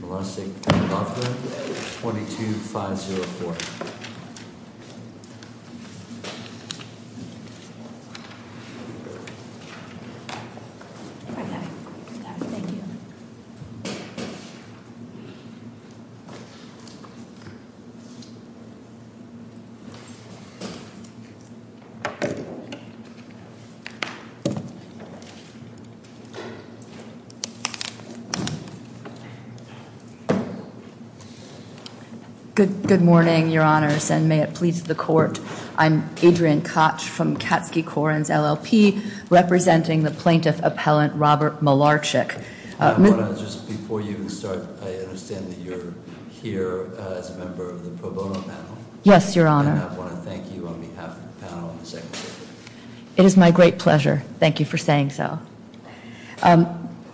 v. Lovgren, 22504. Good morning, your honors, and may it please the court. I'm Adrian Koch from Katsky-Corens LLP, representing the plaintiff appellant Robert Malarczyk. Before you start, I understand that you're here as a member of the pro bono panel. Yes, your honor. And I want to thank you on behalf of the panel and the secretary. It is my great pleasure. Thank you for saying so.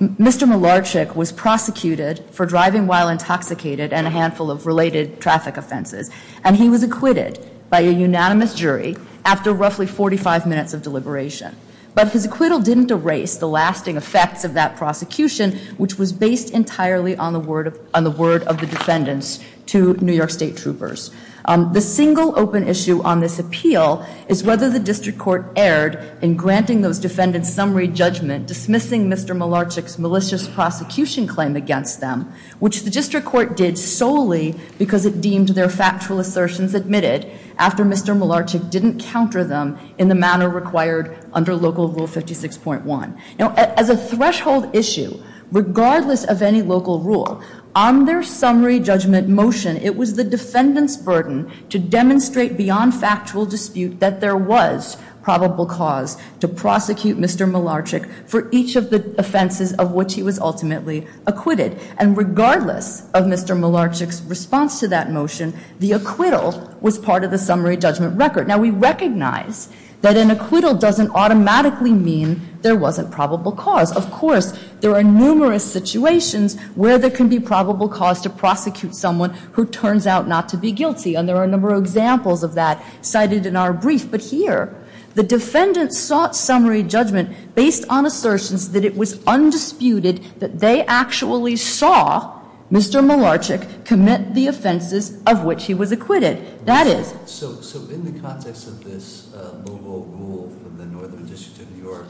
Mr. Malarczyk was prosecuted for driving while intoxicated and a handful of related traffic offenses, and he was acquitted by a unanimous jury after roughly 45 minutes of deliberation. But his acquittal didn't erase the lasting effects of that prosecution, which was based entirely on the word of the defendants to New York State troopers. The single open issue on this appeal is whether the district court erred in granting those defendants summary judgment, dismissing Mr. Malarczyk's malicious prosecution claim against them, which the district court did solely because it deemed their factual assertions admitted after Mr. Malarczyk didn't counter them in the manner required under Local Rule 56.1. Now, as a threshold issue, regardless of any local rule, on their summary judgment motion, it was the defendant's burden to demonstrate beyond factual dispute that there was probable cause to prosecute Mr. Malarczyk for each of the offenses of which he was ultimately acquitted. And regardless of Mr. Malarczyk's response to that motion, the acquittal was part of the summary judgment record. Now, we recognize that an acquittal doesn't automatically mean there wasn't probable cause. Of course, there are numerous situations where there can be probable cause to prosecute someone who turns out not to be guilty. And there are a number of examples of that cited in our brief. But here, the defendant sought summary judgment based on assertions that it was undisputed that they actually saw Mr. Malarczyk commit the offenses of which he was acquitted. That is- So in the context of this local rule from the Northern District of New York,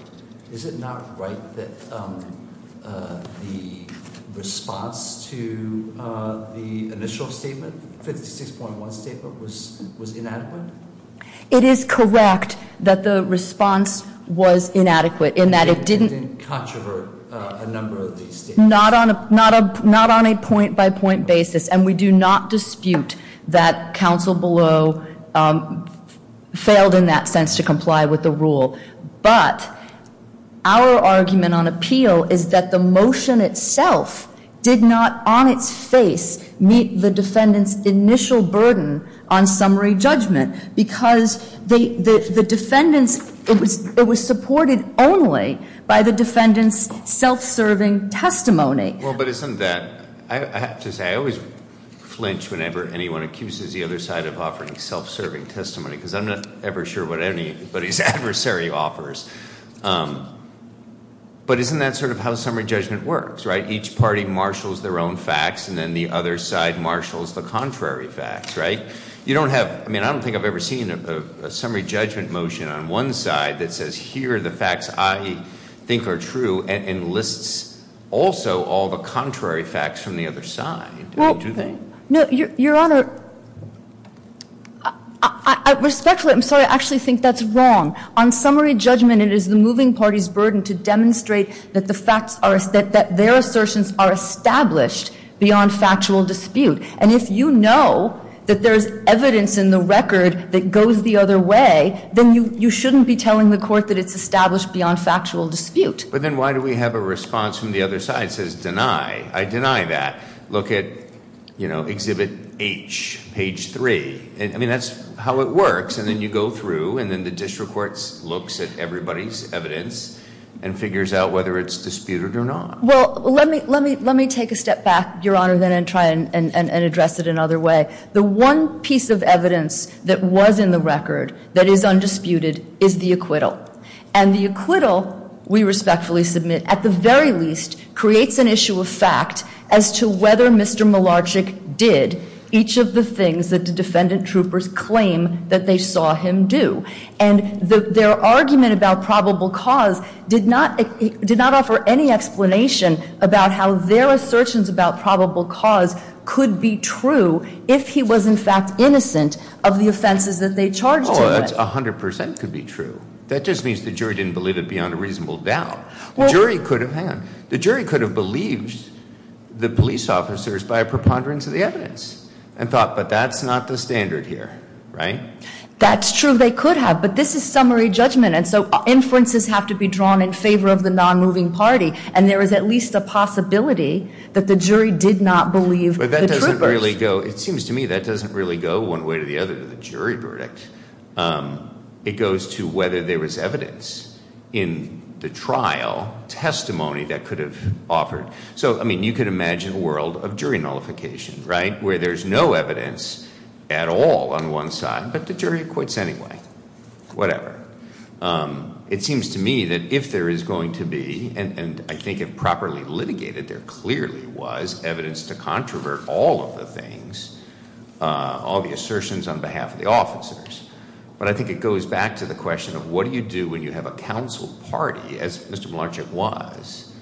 is it not right that the response to the initial statement, 56.1 statement, was inadequate? It is correct that the response was inadequate in that it didn't- It didn't controvert a number of these statements. Not on a point-by-point basis. And we do not dispute that counsel below failed in that sense to comply with the rule. But our argument on appeal is that the motion itself did not, on its face, meet the defendant's initial burden on summary judgment because the defendant's- it was supported only by the defendant's self-serving testimony. Well, but isn't that- I have to say, I always flinch whenever anyone accuses the other side of offering self-serving testimony because I'm not ever sure what anybody's adversary offers. But isn't that sort of how summary judgment works, right? Each party marshals their own facts and then the other side marshals the contrary facts, right? You don't have- I mean, I don't think I've ever seen a summary judgment motion on one side that says here are the facts I think are true and lists also all the contrary facts from the other side. Do they? No, Your Honor. Respectfully, I'm sorry, I actually think that's wrong. On summary judgment, it is the moving party's burden to demonstrate that the facts are- that their assertions are established beyond factual dispute. And if you know that there's evidence in the record that goes the other way, then you shouldn't be telling the court that it's established beyond factual dispute. But then why do we have a response from the other side that says deny? I deny that. Look at, you know, Exhibit H, page 3. I mean, that's how it works. And then you go through and then the district court looks at everybody's evidence and figures out whether it's disputed or not. Well, let me take a step back, Your Honor, then and try and address it another way. The one piece of evidence that was in the record that is undisputed is the acquittal. And the acquittal, we respectfully submit, at the very least, creates an issue of fact as to whether Mr. Malarczyk did each of the things that the defendant troopers claim that they saw him do. And their argument about probable cause did not offer any explanation about how their assertions about probable cause could be true if he was, in fact, innocent of the offenses that they charged him with. Oh, that 100 percent could be true. That just means the jury didn't believe it beyond a reasonable doubt. The jury could have, hang on, the jury could have believed the police officers by a preponderance of the evidence and thought, but that's not the standard here, right? That's true, they could have, but this is summary judgment, and so inferences have to be drawn in favor of the non-moving party, and there is at least a possibility that the jury did not believe the troopers. But that doesn't really go, it seems to me that doesn't really go one way or the other to the jury verdict. It goes to whether there was evidence in the trial, testimony that could have offered. So, I mean, you could imagine a world of jury nullification, right, where there's no evidence at all on one side, but the jury quits anyway, whatever. It seems to me that if there is going to be, and I think if properly litigated, there clearly was evidence to controvert all of the things, all the assertions on behalf of the officers. But I think it goes back to the question of what do you do when you have a council party, as Mr. Melanchik was,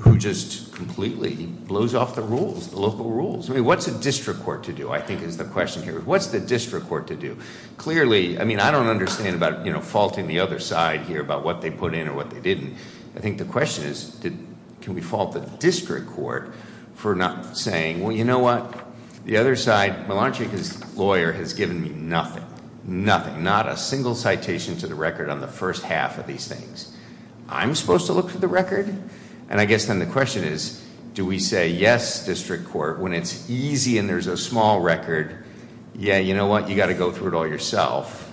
who just completely blows off the rules, the local rules. I mean, what's a district court to do, I think is the question here. What's the district court to do? Clearly, I mean, I don't understand about faulting the other side here about what they put in or what they didn't. I think the question is can we fault the district court for not saying, well, you know what? The other side, Melanchik's lawyer has given me nothing, nothing, not a single citation to the record on the first half of these things. I'm supposed to look for the record? And I guess then the question is do we say yes, district court, when it's easy and there's a small record. Yeah, you know what? You've got to go through it all yourself.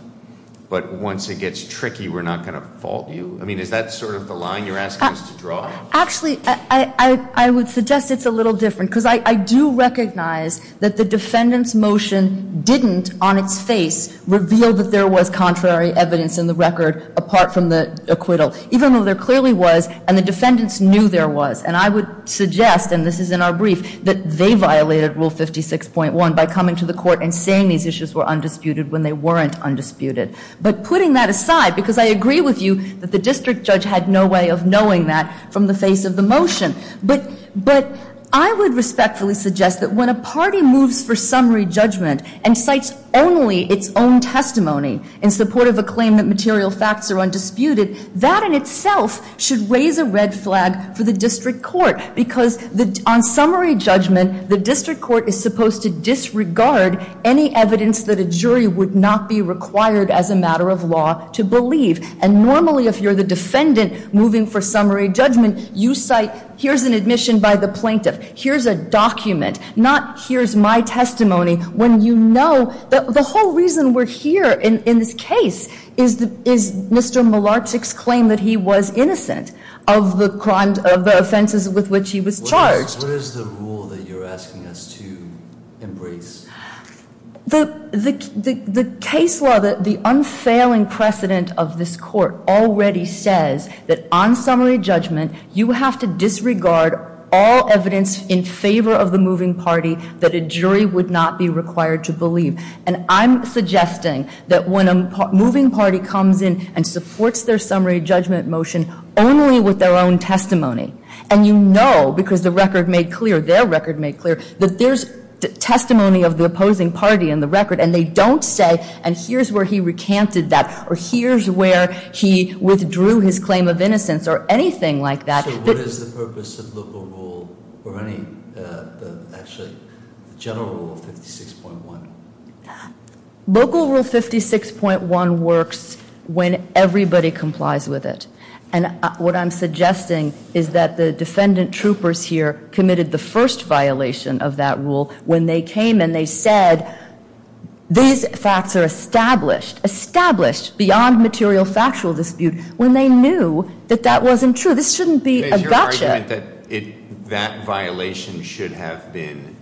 But once it gets tricky, we're not going to fault you. I mean, is that sort of the line you're asking us to draw? Actually, I would suggest it's a little different because I do recognize that the defendant's motion didn't, on its face, reveal that there was contrary evidence in the record apart from the acquittal, even though there clearly was and the defendants knew there was. And I would suggest, and this is in our brief, that they violated Rule 56.1 by coming to the court and saying these issues were undisputed when they weren't undisputed. But putting that aside, because I agree with you that the district judge had no way of knowing that from the face of the motion. But I would respectfully suggest that when a party moves for summary judgment and cites only its own testimony in support of a claim that material facts are undisputed, that in itself should raise a red flag for the district court. Because on summary judgment, the district court is supposed to disregard any evidence that a jury would not be required as a matter of law to believe. And normally, if you're the defendant moving for summary judgment, you cite here's an admission by the plaintiff, here's a document, not here's my testimony, when you know that the whole reason we're here in this case is Mr. Mlarchik's claim that he was innocent of the offenses with which he was charged. What is the rule that you're asking us to embrace? The case law, the unfailing precedent of this court already says that on summary judgment, you have to disregard all evidence in favor of the moving party that a jury would not be required to believe. And I'm suggesting that when a moving party comes in and supports their summary judgment motion only with their own testimony, and you know because the record made clear, their record made clear, that there's testimony of the opposing party in the record and they don't say, and here's where he recanted that or here's where he withdrew his claim of innocence or anything like that. So what is the purpose of local rule or any, actually, general rule 56.1? Local rule 56.1 works when everybody complies with it. And what I'm suggesting is that the defendant troopers here committed the first violation of that rule when they came and they said, these facts are established, established, beyond material factual dispute, when they knew that that wasn't true. This shouldn't be a gotcha. That violation should have been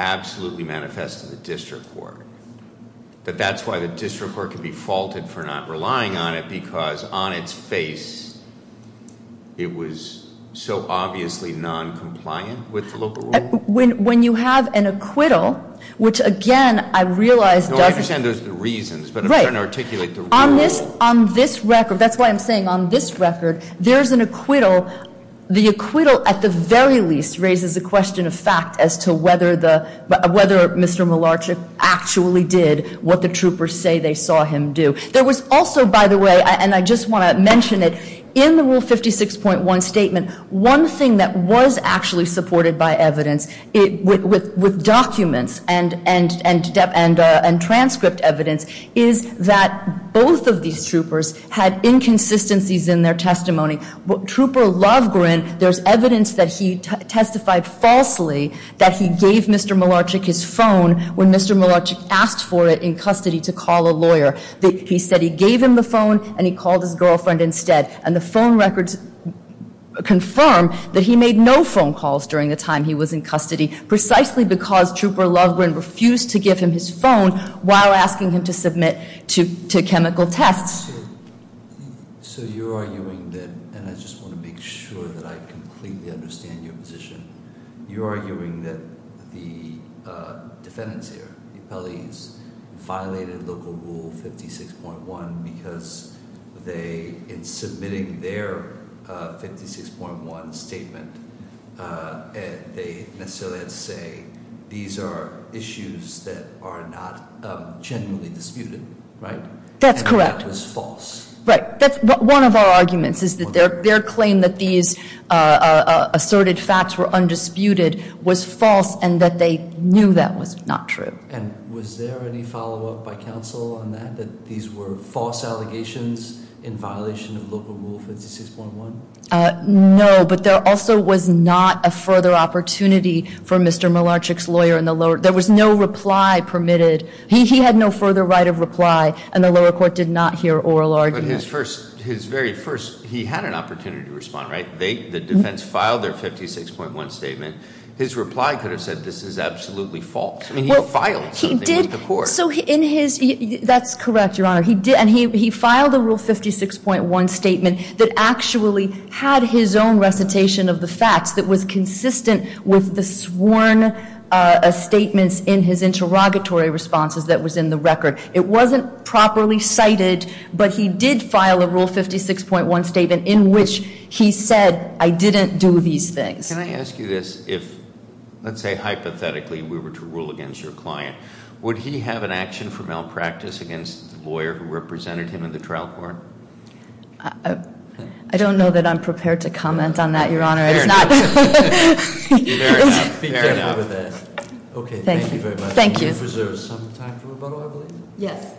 absolutely manifest to the district court. But that's why the district court could be faulted for not relying on it because on its face, it was so obviously non-compliant with the local rule? When you have an acquittal, which again, I realize doesn't- No, I understand there's reasons, but I'm trying to articulate the rule. On this record, that's why I'm saying on this record, there's an acquittal. The acquittal, at the very least, raises a question of fact as to whether Mr. Malarchick actually did what the troopers say they saw him do. There was also, by the way, and I just want to mention it, in the rule 56.1 statement, one thing that was actually supported by evidence with documents and transcript evidence is that both of these troopers had inconsistencies in their testimony. Trooper Lovgren, there's evidence that he testified falsely that he gave Mr. Malarchick his phone when Mr. Malarchick asked for it in custody to call a lawyer. He said he gave him the phone and he called his girlfriend instead. And the phone records confirm that he made no phone calls during the time he was in custody precisely because Trooper Lovgren refused to give him his phone while asking him to submit to chemical tests. So you're arguing that, and I just want to make sure that I completely understand your position. You're arguing that the defendants here, the appellees, violated local rule 56.1 because in submitting their 56.1 statement, they necessarily had to say these are issues that are not generally disputed, right? That's correct. And that was false. Right. One of our arguments is that their claim that these asserted facts were undisputed was false and that they knew that was not true. And was there any follow-up by counsel on that, that these were false allegations in violation of local rule 56.1? No, but there also was not a further opportunity for Mr. Malarchick's lawyer in the lower, there was no reply permitted. He had no further right of reply, and the lower court did not hear oral arguments. But his very first, he had an opportunity to respond, right? The defense filed their 56.1 statement. His reply could have said this is absolutely false. I mean, he filed something with the court. That's correct, Your Honor. And he filed a rule 56.1 statement that actually had his own recitation of the facts that was consistent with the sworn statements in his interrogatory responses that was in the record. It wasn't properly cited, but he did file a rule 56.1 statement in which he said I didn't do these things. Can I ask you this? If, let's say hypothetically, we were to rule against your client, would he have an action for malpractice against the lawyer who represented him in the trial court? I don't know that I'm prepared to comment on that, Your Honor. Fair enough. Fair enough. Okay, thank you very much. Thank you. Do you reserve some time for rebuttal, I believe? Yes.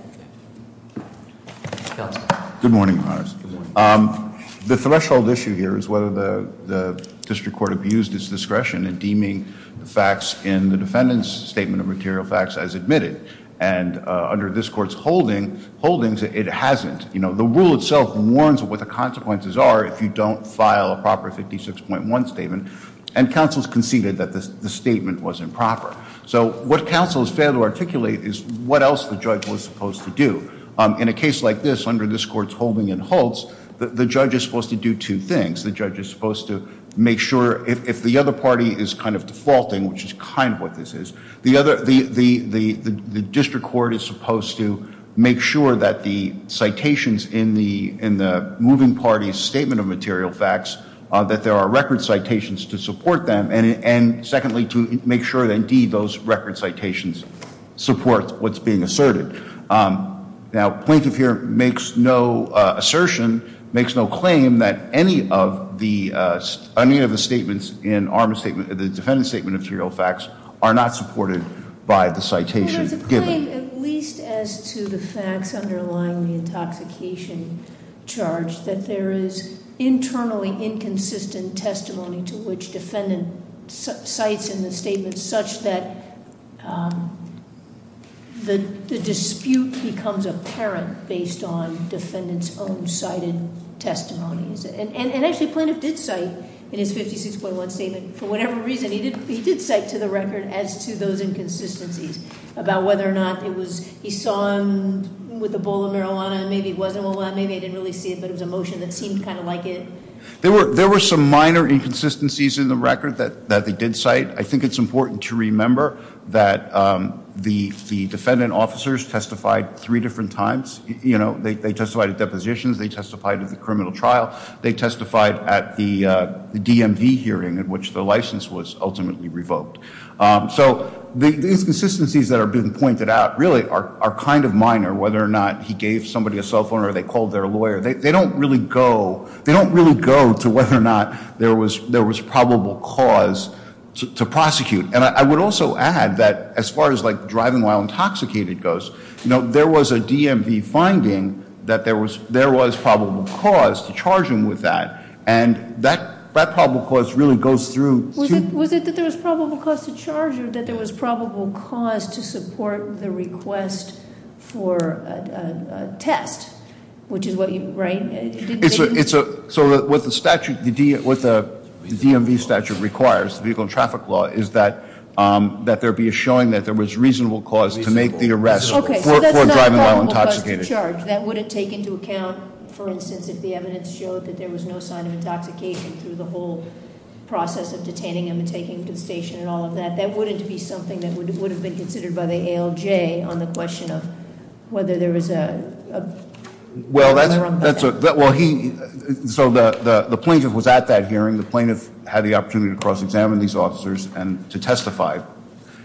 Counsel. Good morning, Your Honor. Good morning. The threshold issue here is whether the district court abused its discretion in deeming the facts in the defendant's statement of material facts as admitted. And under this court's holdings, it hasn't. You know, the rule itself warns of what the consequences are if you don't file a proper 56.1 statement, and counsel has conceded that the statement was improper. So what counsel has failed to articulate is what else the judge was supposed to do. In a case like this, under this court's holding and holds, the judge is supposed to do two things. The judge is supposed to make sure if the other party is kind of defaulting, which is kind of what this is, the district court is supposed to make sure that the citations in the moving party's statement of material facts, that there are record citations to support them, and secondly, to make sure that, indeed, those record citations support what's being asserted. Now, plaintiff here makes no assertion, makes no claim, that any of the statements in the defendant's statement of material facts are not supported by the citation given. There's a claim, at least as to the facts underlying the intoxication charge, that there is internally inconsistent testimony to which defendant cites in the statement, such that the dispute becomes apparent based on defendant's own cited testimonies. And actually, Plaintiff did cite in his 56.1 statement, for whatever reason, he did cite to the record as to those inconsistencies about whether or not it was, he saw him with a bowl of marijuana, and maybe it wasn't. Well, maybe I didn't really see it, but it was a motion that seemed kind of like it. There were some minor inconsistencies in the record that they did cite. I think it's important to remember that the defendant officers testified three different times. They testified at depositions. They testified at the criminal trial. They testified at the DMV hearing, at which the license was ultimately revoked. So the inconsistencies that have been pointed out really are kind of minor, whether or not he gave somebody a cell phone or they called their lawyer. They don't really go to whether or not there was probable cause to prosecute. And I would also add that as far as driving while intoxicated goes, there was a DMV finding that there was probable cause to charge him with that. And that probable cause really goes through- So what the DMV statute requires, the vehicle and traffic law, is that there be a showing that there was reasonable cause to make the arrest for driving while intoxicated. Okay, so that's not probable cause to charge. That wouldn't take into account, for instance, if the evidence showed that there was no sign of intoxication through the whole process of detaining him and taking him to the station and all of that. That wouldn't be something that would have been considered by the ALJ on the question of whether there was a- So the plaintiff was at that hearing. The plaintiff had the opportunity to cross-examine these officers and to testify.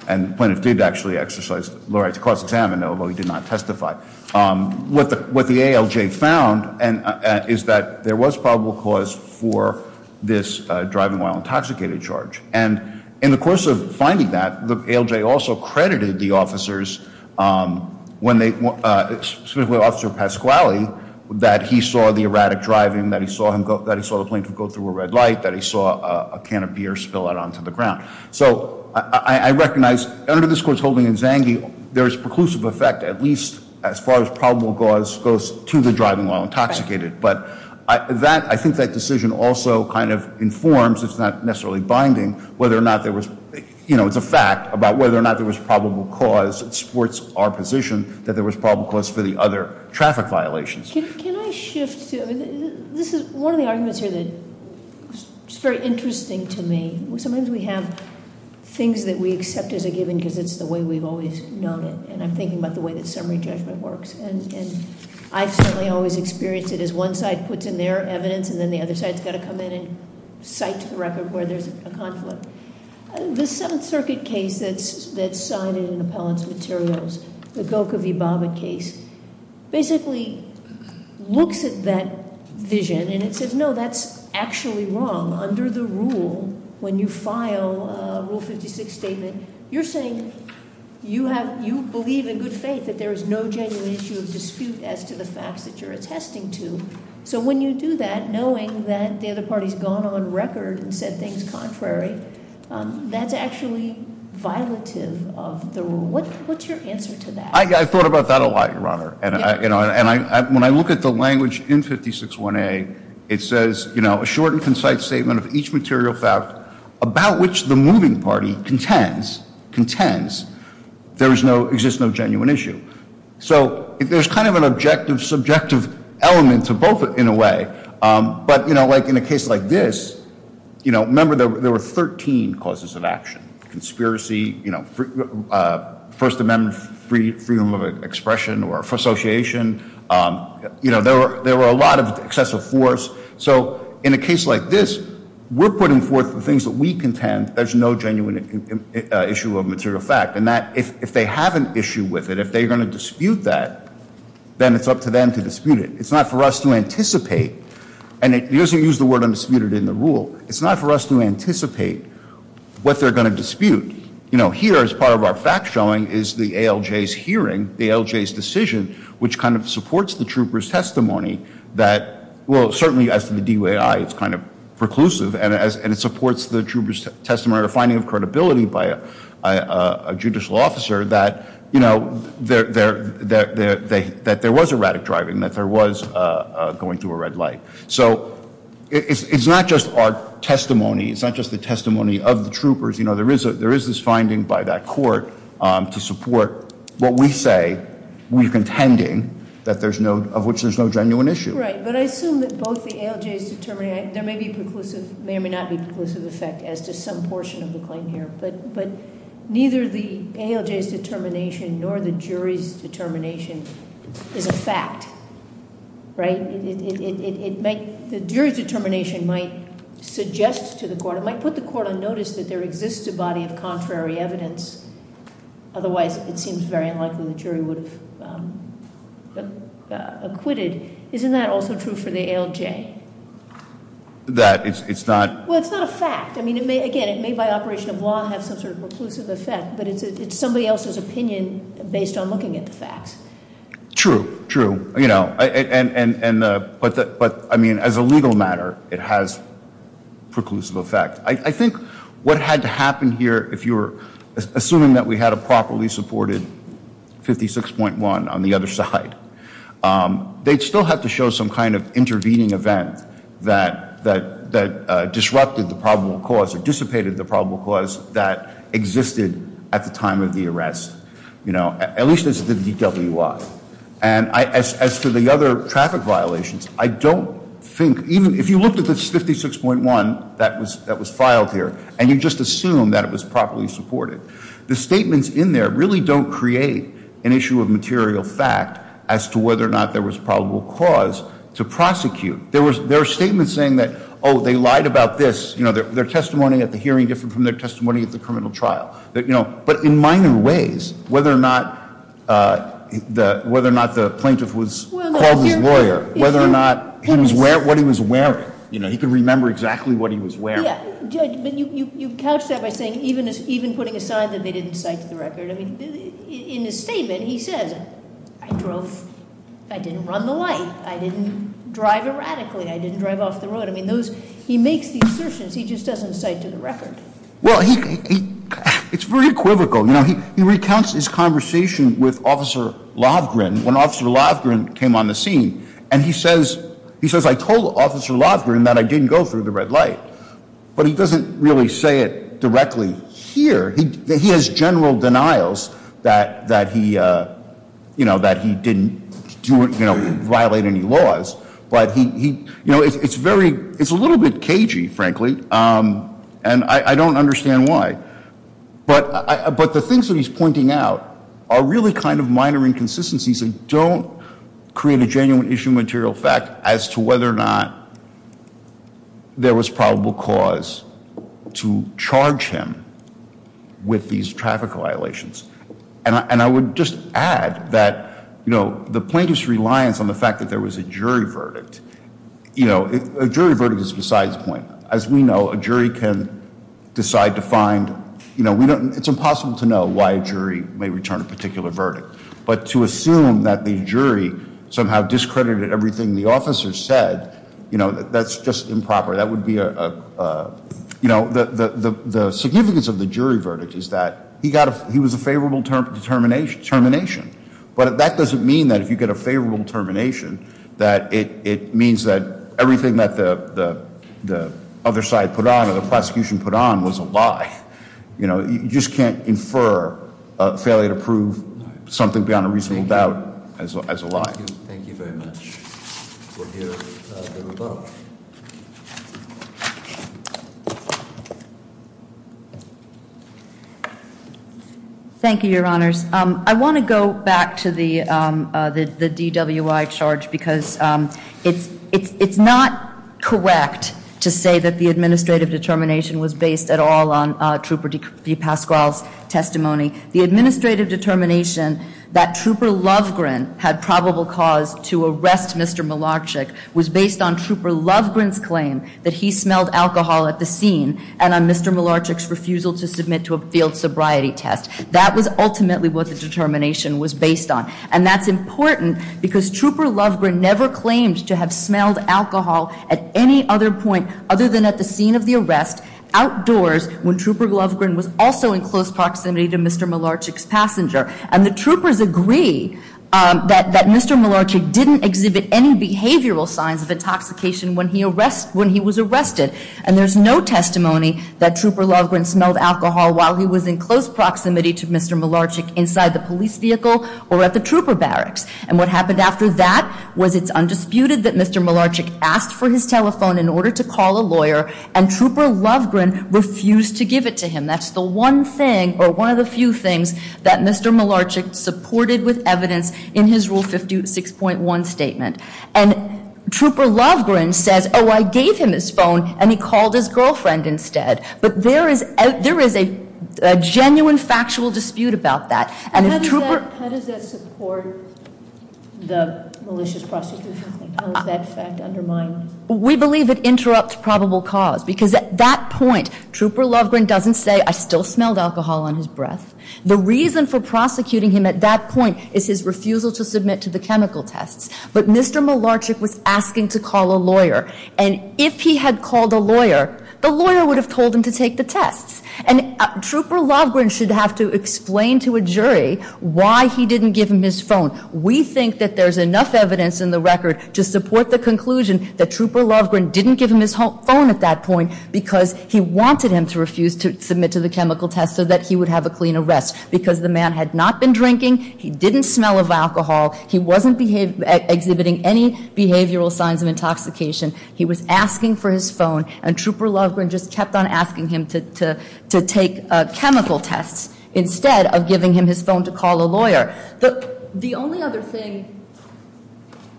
And the plaintiff did actually exercise the right to cross-examine, although he did not testify. What the ALJ found is that there was probable cause for this driving while intoxicated charge. And in the course of finding that, the ALJ also credited the officers specifically Officer Pasquale, that he saw the erratic driving, that he saw the plaintiff go through a red light, that he saw a can of beer spill out onto the ground. So I recognize under this court's holding in Zanghi, there is preclusive effect at least as far as probable cause goes to the driving while intoxicated. But I think that decision also kind of informs, it's not necessarily binding, whether or not there was- It supports our position that there was probable cause for the other traffic violations. Can I shift to, this is one of the arguments here that is very interesting to me. Sometimes we have things that we accept as a given because it's the way we've always known it. And I'm thinking about the way that summary judgment works. And I've certainly always experienced it as one side puts in their evidence and then the other side's got to come in and cite to the record where there's a conflict. The Seventh Circuit case that's cited in appellant's materials, the Gokha Vibaba case, basically looks at that vision and it says, no, that's actually wrong. Under the rule, when you file a Rule 56 statement, you're saying you have, you believe in good faith that there is no genuine issue of dispute as to the facts that you're attesting to. So when you do that, knowing that the other party's gone on record and said things contrary, that's actually violative of the rule. What's your answer to that? I thought about that a lot, Your Honor. And when I look at the language in 56-1A, it says, a short and concise statement of each material fact about which the moving party contends, contends there exists no genuine issue. So if there's kind of an objective, subjective element to both in a way. But in a case like this, remember there were 13 causes of action. Conspiracy, First Amendment freedom of expression or association, there were a lot of excessive force. So in a case like this, we're putting forth the things that we contend there's no genuine issue of material fact. And that if they have an issue with it, if they're going to dispute that, then it's up to them to dispute it. It's not for us to anticipate. And it doesn't use the word undisputed in the rule. It's not for us to anticipate what they're going to dispute. Here, as part of our fact showing, is the ALJ's hearing, the ALJ's decision, which kind of supports the trooper's testimony that, well, certainly as to the DUAI, it's kind of preclusive. And it supports the trooper's testimony or finding of credibility by a judicial officer that there was erratic driving, that there was going through a red light. So it's not just our testimony, it's not just the testimony of the troopers. There is this finding by that court to support what we say, we're contending of which there's no genuine issue. Right, but I assume that both the ALJ's determination, there may be preclusive, may or may not be preclusive effect as to some portion of the claim here. But neither the ALJ's determination nor the jury's determination is a fact, right? The jury's determination might suggest to the court, it might put the court on notice that there exists a body of contrary evidence. Otherwise, it seems very unlikely the jury would have acquitted. Isn't that also true for the ALJ? That it's not- Well, it's not a fact. I mean, again, it may by operation of law have some sort of preclusive effect, but it's somebody else's opinion based on looking at the facts. True, true, but I mean, as a legal matter, it has preclusive effect. I think what had to happen here, if you're assuming that we had a properly supported 56.1 on the other side. They'd still have to show some kind of intervening event that disrupted the probable cause or dissipated the probable cause that existed at the time of the arrest. At least as the DWI. And as to the other traffic violations, I don't think, even if you looked at this 56.1 that was filed here, and you just assumed that it was properly supported. The statements in there really don't create an issue of material fact as to whether or not there was probable cause to prosecute. There were statements saying that, they lied about this. Their testimony at the hearing different from their testimony at the criminal trial. But in minor ways, whether or not the plaintiff was called his lawyer, whether or not he was wearing what he was wearing, he could remember exactly what he was wearing. Yeah, but you couch that by saying, even putting aside that they didn't cite to the record. In his statement, he says, I didn't run the light, I didn't drive erratically, I didn't drive off the road. He makes the assertions, he just doesn't cite to the record. Well, it's very equivocal. He recounts his conversation with Officer Lovgren, when Officer Lovgren came on the scene. And he says, I told Officer Lovgren that I didn't go through the red light. But he doesn't really say it directly here. He has general denials that he didn't violate any laws. But it's a little bit cagey, frankly, and I don't understand why. But the things that he's pointing out are really kind of minor inconsistencies that don't create a genuine issue material fact as to whether or not there was probable cause to charge him with these traffic violations. And I would just add that the plaintiff's reliance on the fact that there was a jury verdict. As we know, a jury can decide to find, it's impossible to know why a jury may return a particular verdict. But to assume that the jury somehow discredited everything the officer said, that's just improper. That would be a, the significance of the jury verdict is that he was a favorable termination. But that doesn't mean that if you get a favorable termination that it means that everything that the other side put on, or the prosecution put on was a lie. You just can't infer a failure to prove something beyond a reasonable doubt as a lie. Thank you very much. We'll hear the rebuttal. Thank you, your honors. I want to go back to the DWI charge because it's not correct to say that the administrative determination was based at all on Trooper DePasquale's testimony. The administrative determination that Trooper Lovegrin had probable cause to arrest Mr. Mlarchik was based on Trooper Lovegrin's claim that he smelled alcohol at the scene and on Mr. Mlarchik's refusal to submit to a field sobriety test. That was ultimately what the determination was based on. And that's important because Trooper Lovegrin never claimed to have smelled alcohol at any other point other than at the scene of the arrest, outdoors when Trooper Lovegrin was also in close proximity to Mr. Mlarchik's passenger. And the troopers agree that Mr. Mlarchik didn't exhibit any behavioral signs of intoxication when he was arrested. And there's no testimony that Trooper Lovegrin smelled alcohol while he was in close proximity to Mr. Mlarchik inside the police vehicle or at the trooper barracks. And what happened after that was it's undisputed that Mr. Mlarchik asked for his telephone in order to call a lawyer. And Trooper Lovegrin refused to give it to him. That's the one thing or one of the few things that Mr. Mlarchik supported with evidence in his rule 56.1 statement. And Trooper Lovegrin says, I gave him his phone and he called his girlfriend instead. But there is a genuine factual dispute about that. And if Trooper- How does that support the malicious prosecution? How does that fact undermine? We believe it interrupts probable cause because at that point, Trooper Lovegrin doesn't say, I still smelled alcohol on his breath. The reason for prosecuting him at that point is his refusal to submit to the chemical tests. And if he had called a lawyer, the lawyer would have told him to take the tests. And Trooper Lovegrin should have to explain to a jury why he didn't give him his phone. We think that there's enough evidence in the record to support the conclusion that Trooper Lovegrin didn't give him his phone at that point. Because he wanted him to refuse to submit to the chemical test so that he would have a clean arrest. Because the man had not been drinking, he didn't smell of alcohol, he wasn't exhibiting any behavioral signs of intoxication. He was asking for his phone, and Trooper Lovegrin just kept on asking him to take chemical tests. Instead of giving him his phone to call a lawyer. The only other thing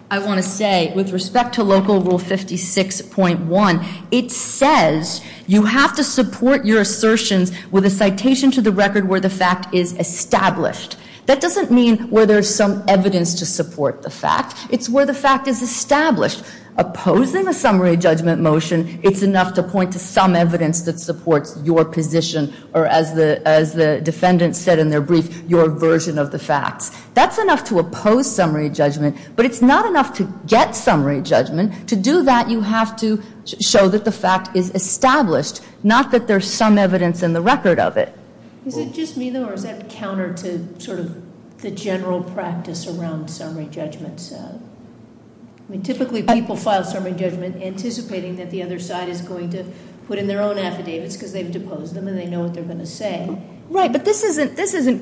I want to say with respect to local rule 56.1, it says you have to support your assertions with a citation to the record where the fact is established. That doesn't mean where there's some evidence to support the fact, it's where the fact is established. Opposing a summary judgment motion, it's enough to point to some evidence that supports your position. Or as the defendants said in their brief, your version of the facts. That's enough to oppose summary judgment, but it's not enough to get summary judgment. To do that, you have to show that the fact is established, not that there's some evidence in the record of it. Is it just me, though, or is that counter to sort of the general practice around summary judgments? I mean, typically people file summary judgment anticipating that the other side is going to put in their own affidavits, because they've deposed them and they know what they're going to say. Right, but this isn't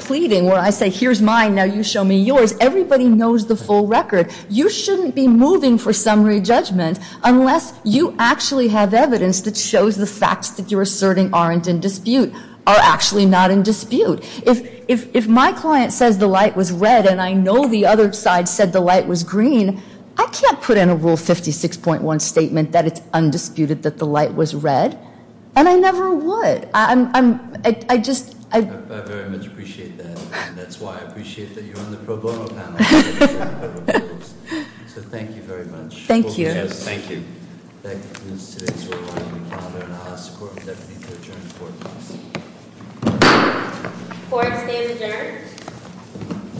pleading, where I say, here's mine, now you show me yours. Everybody knows the full record. You shouldn't be moving for summary judgment unless you actually have evidence that shows the facts that you're asserting aren't in dispute, are actually not in dispute. If my client says the light was red and I know the other side said the light was green, I can't put in a rule 56.1 statement that it's undisputed that the light was red, and I never would. I just- I very much appreciate that, and that's why I appreciate that you're on the pro bono panel. So thank you very much. Thank you. Thank you. Thank you, Ms. Tidings. We're running the calendar, and I'll ask the Court of Deputy to adjourn for four minutes. Court stays adjourned.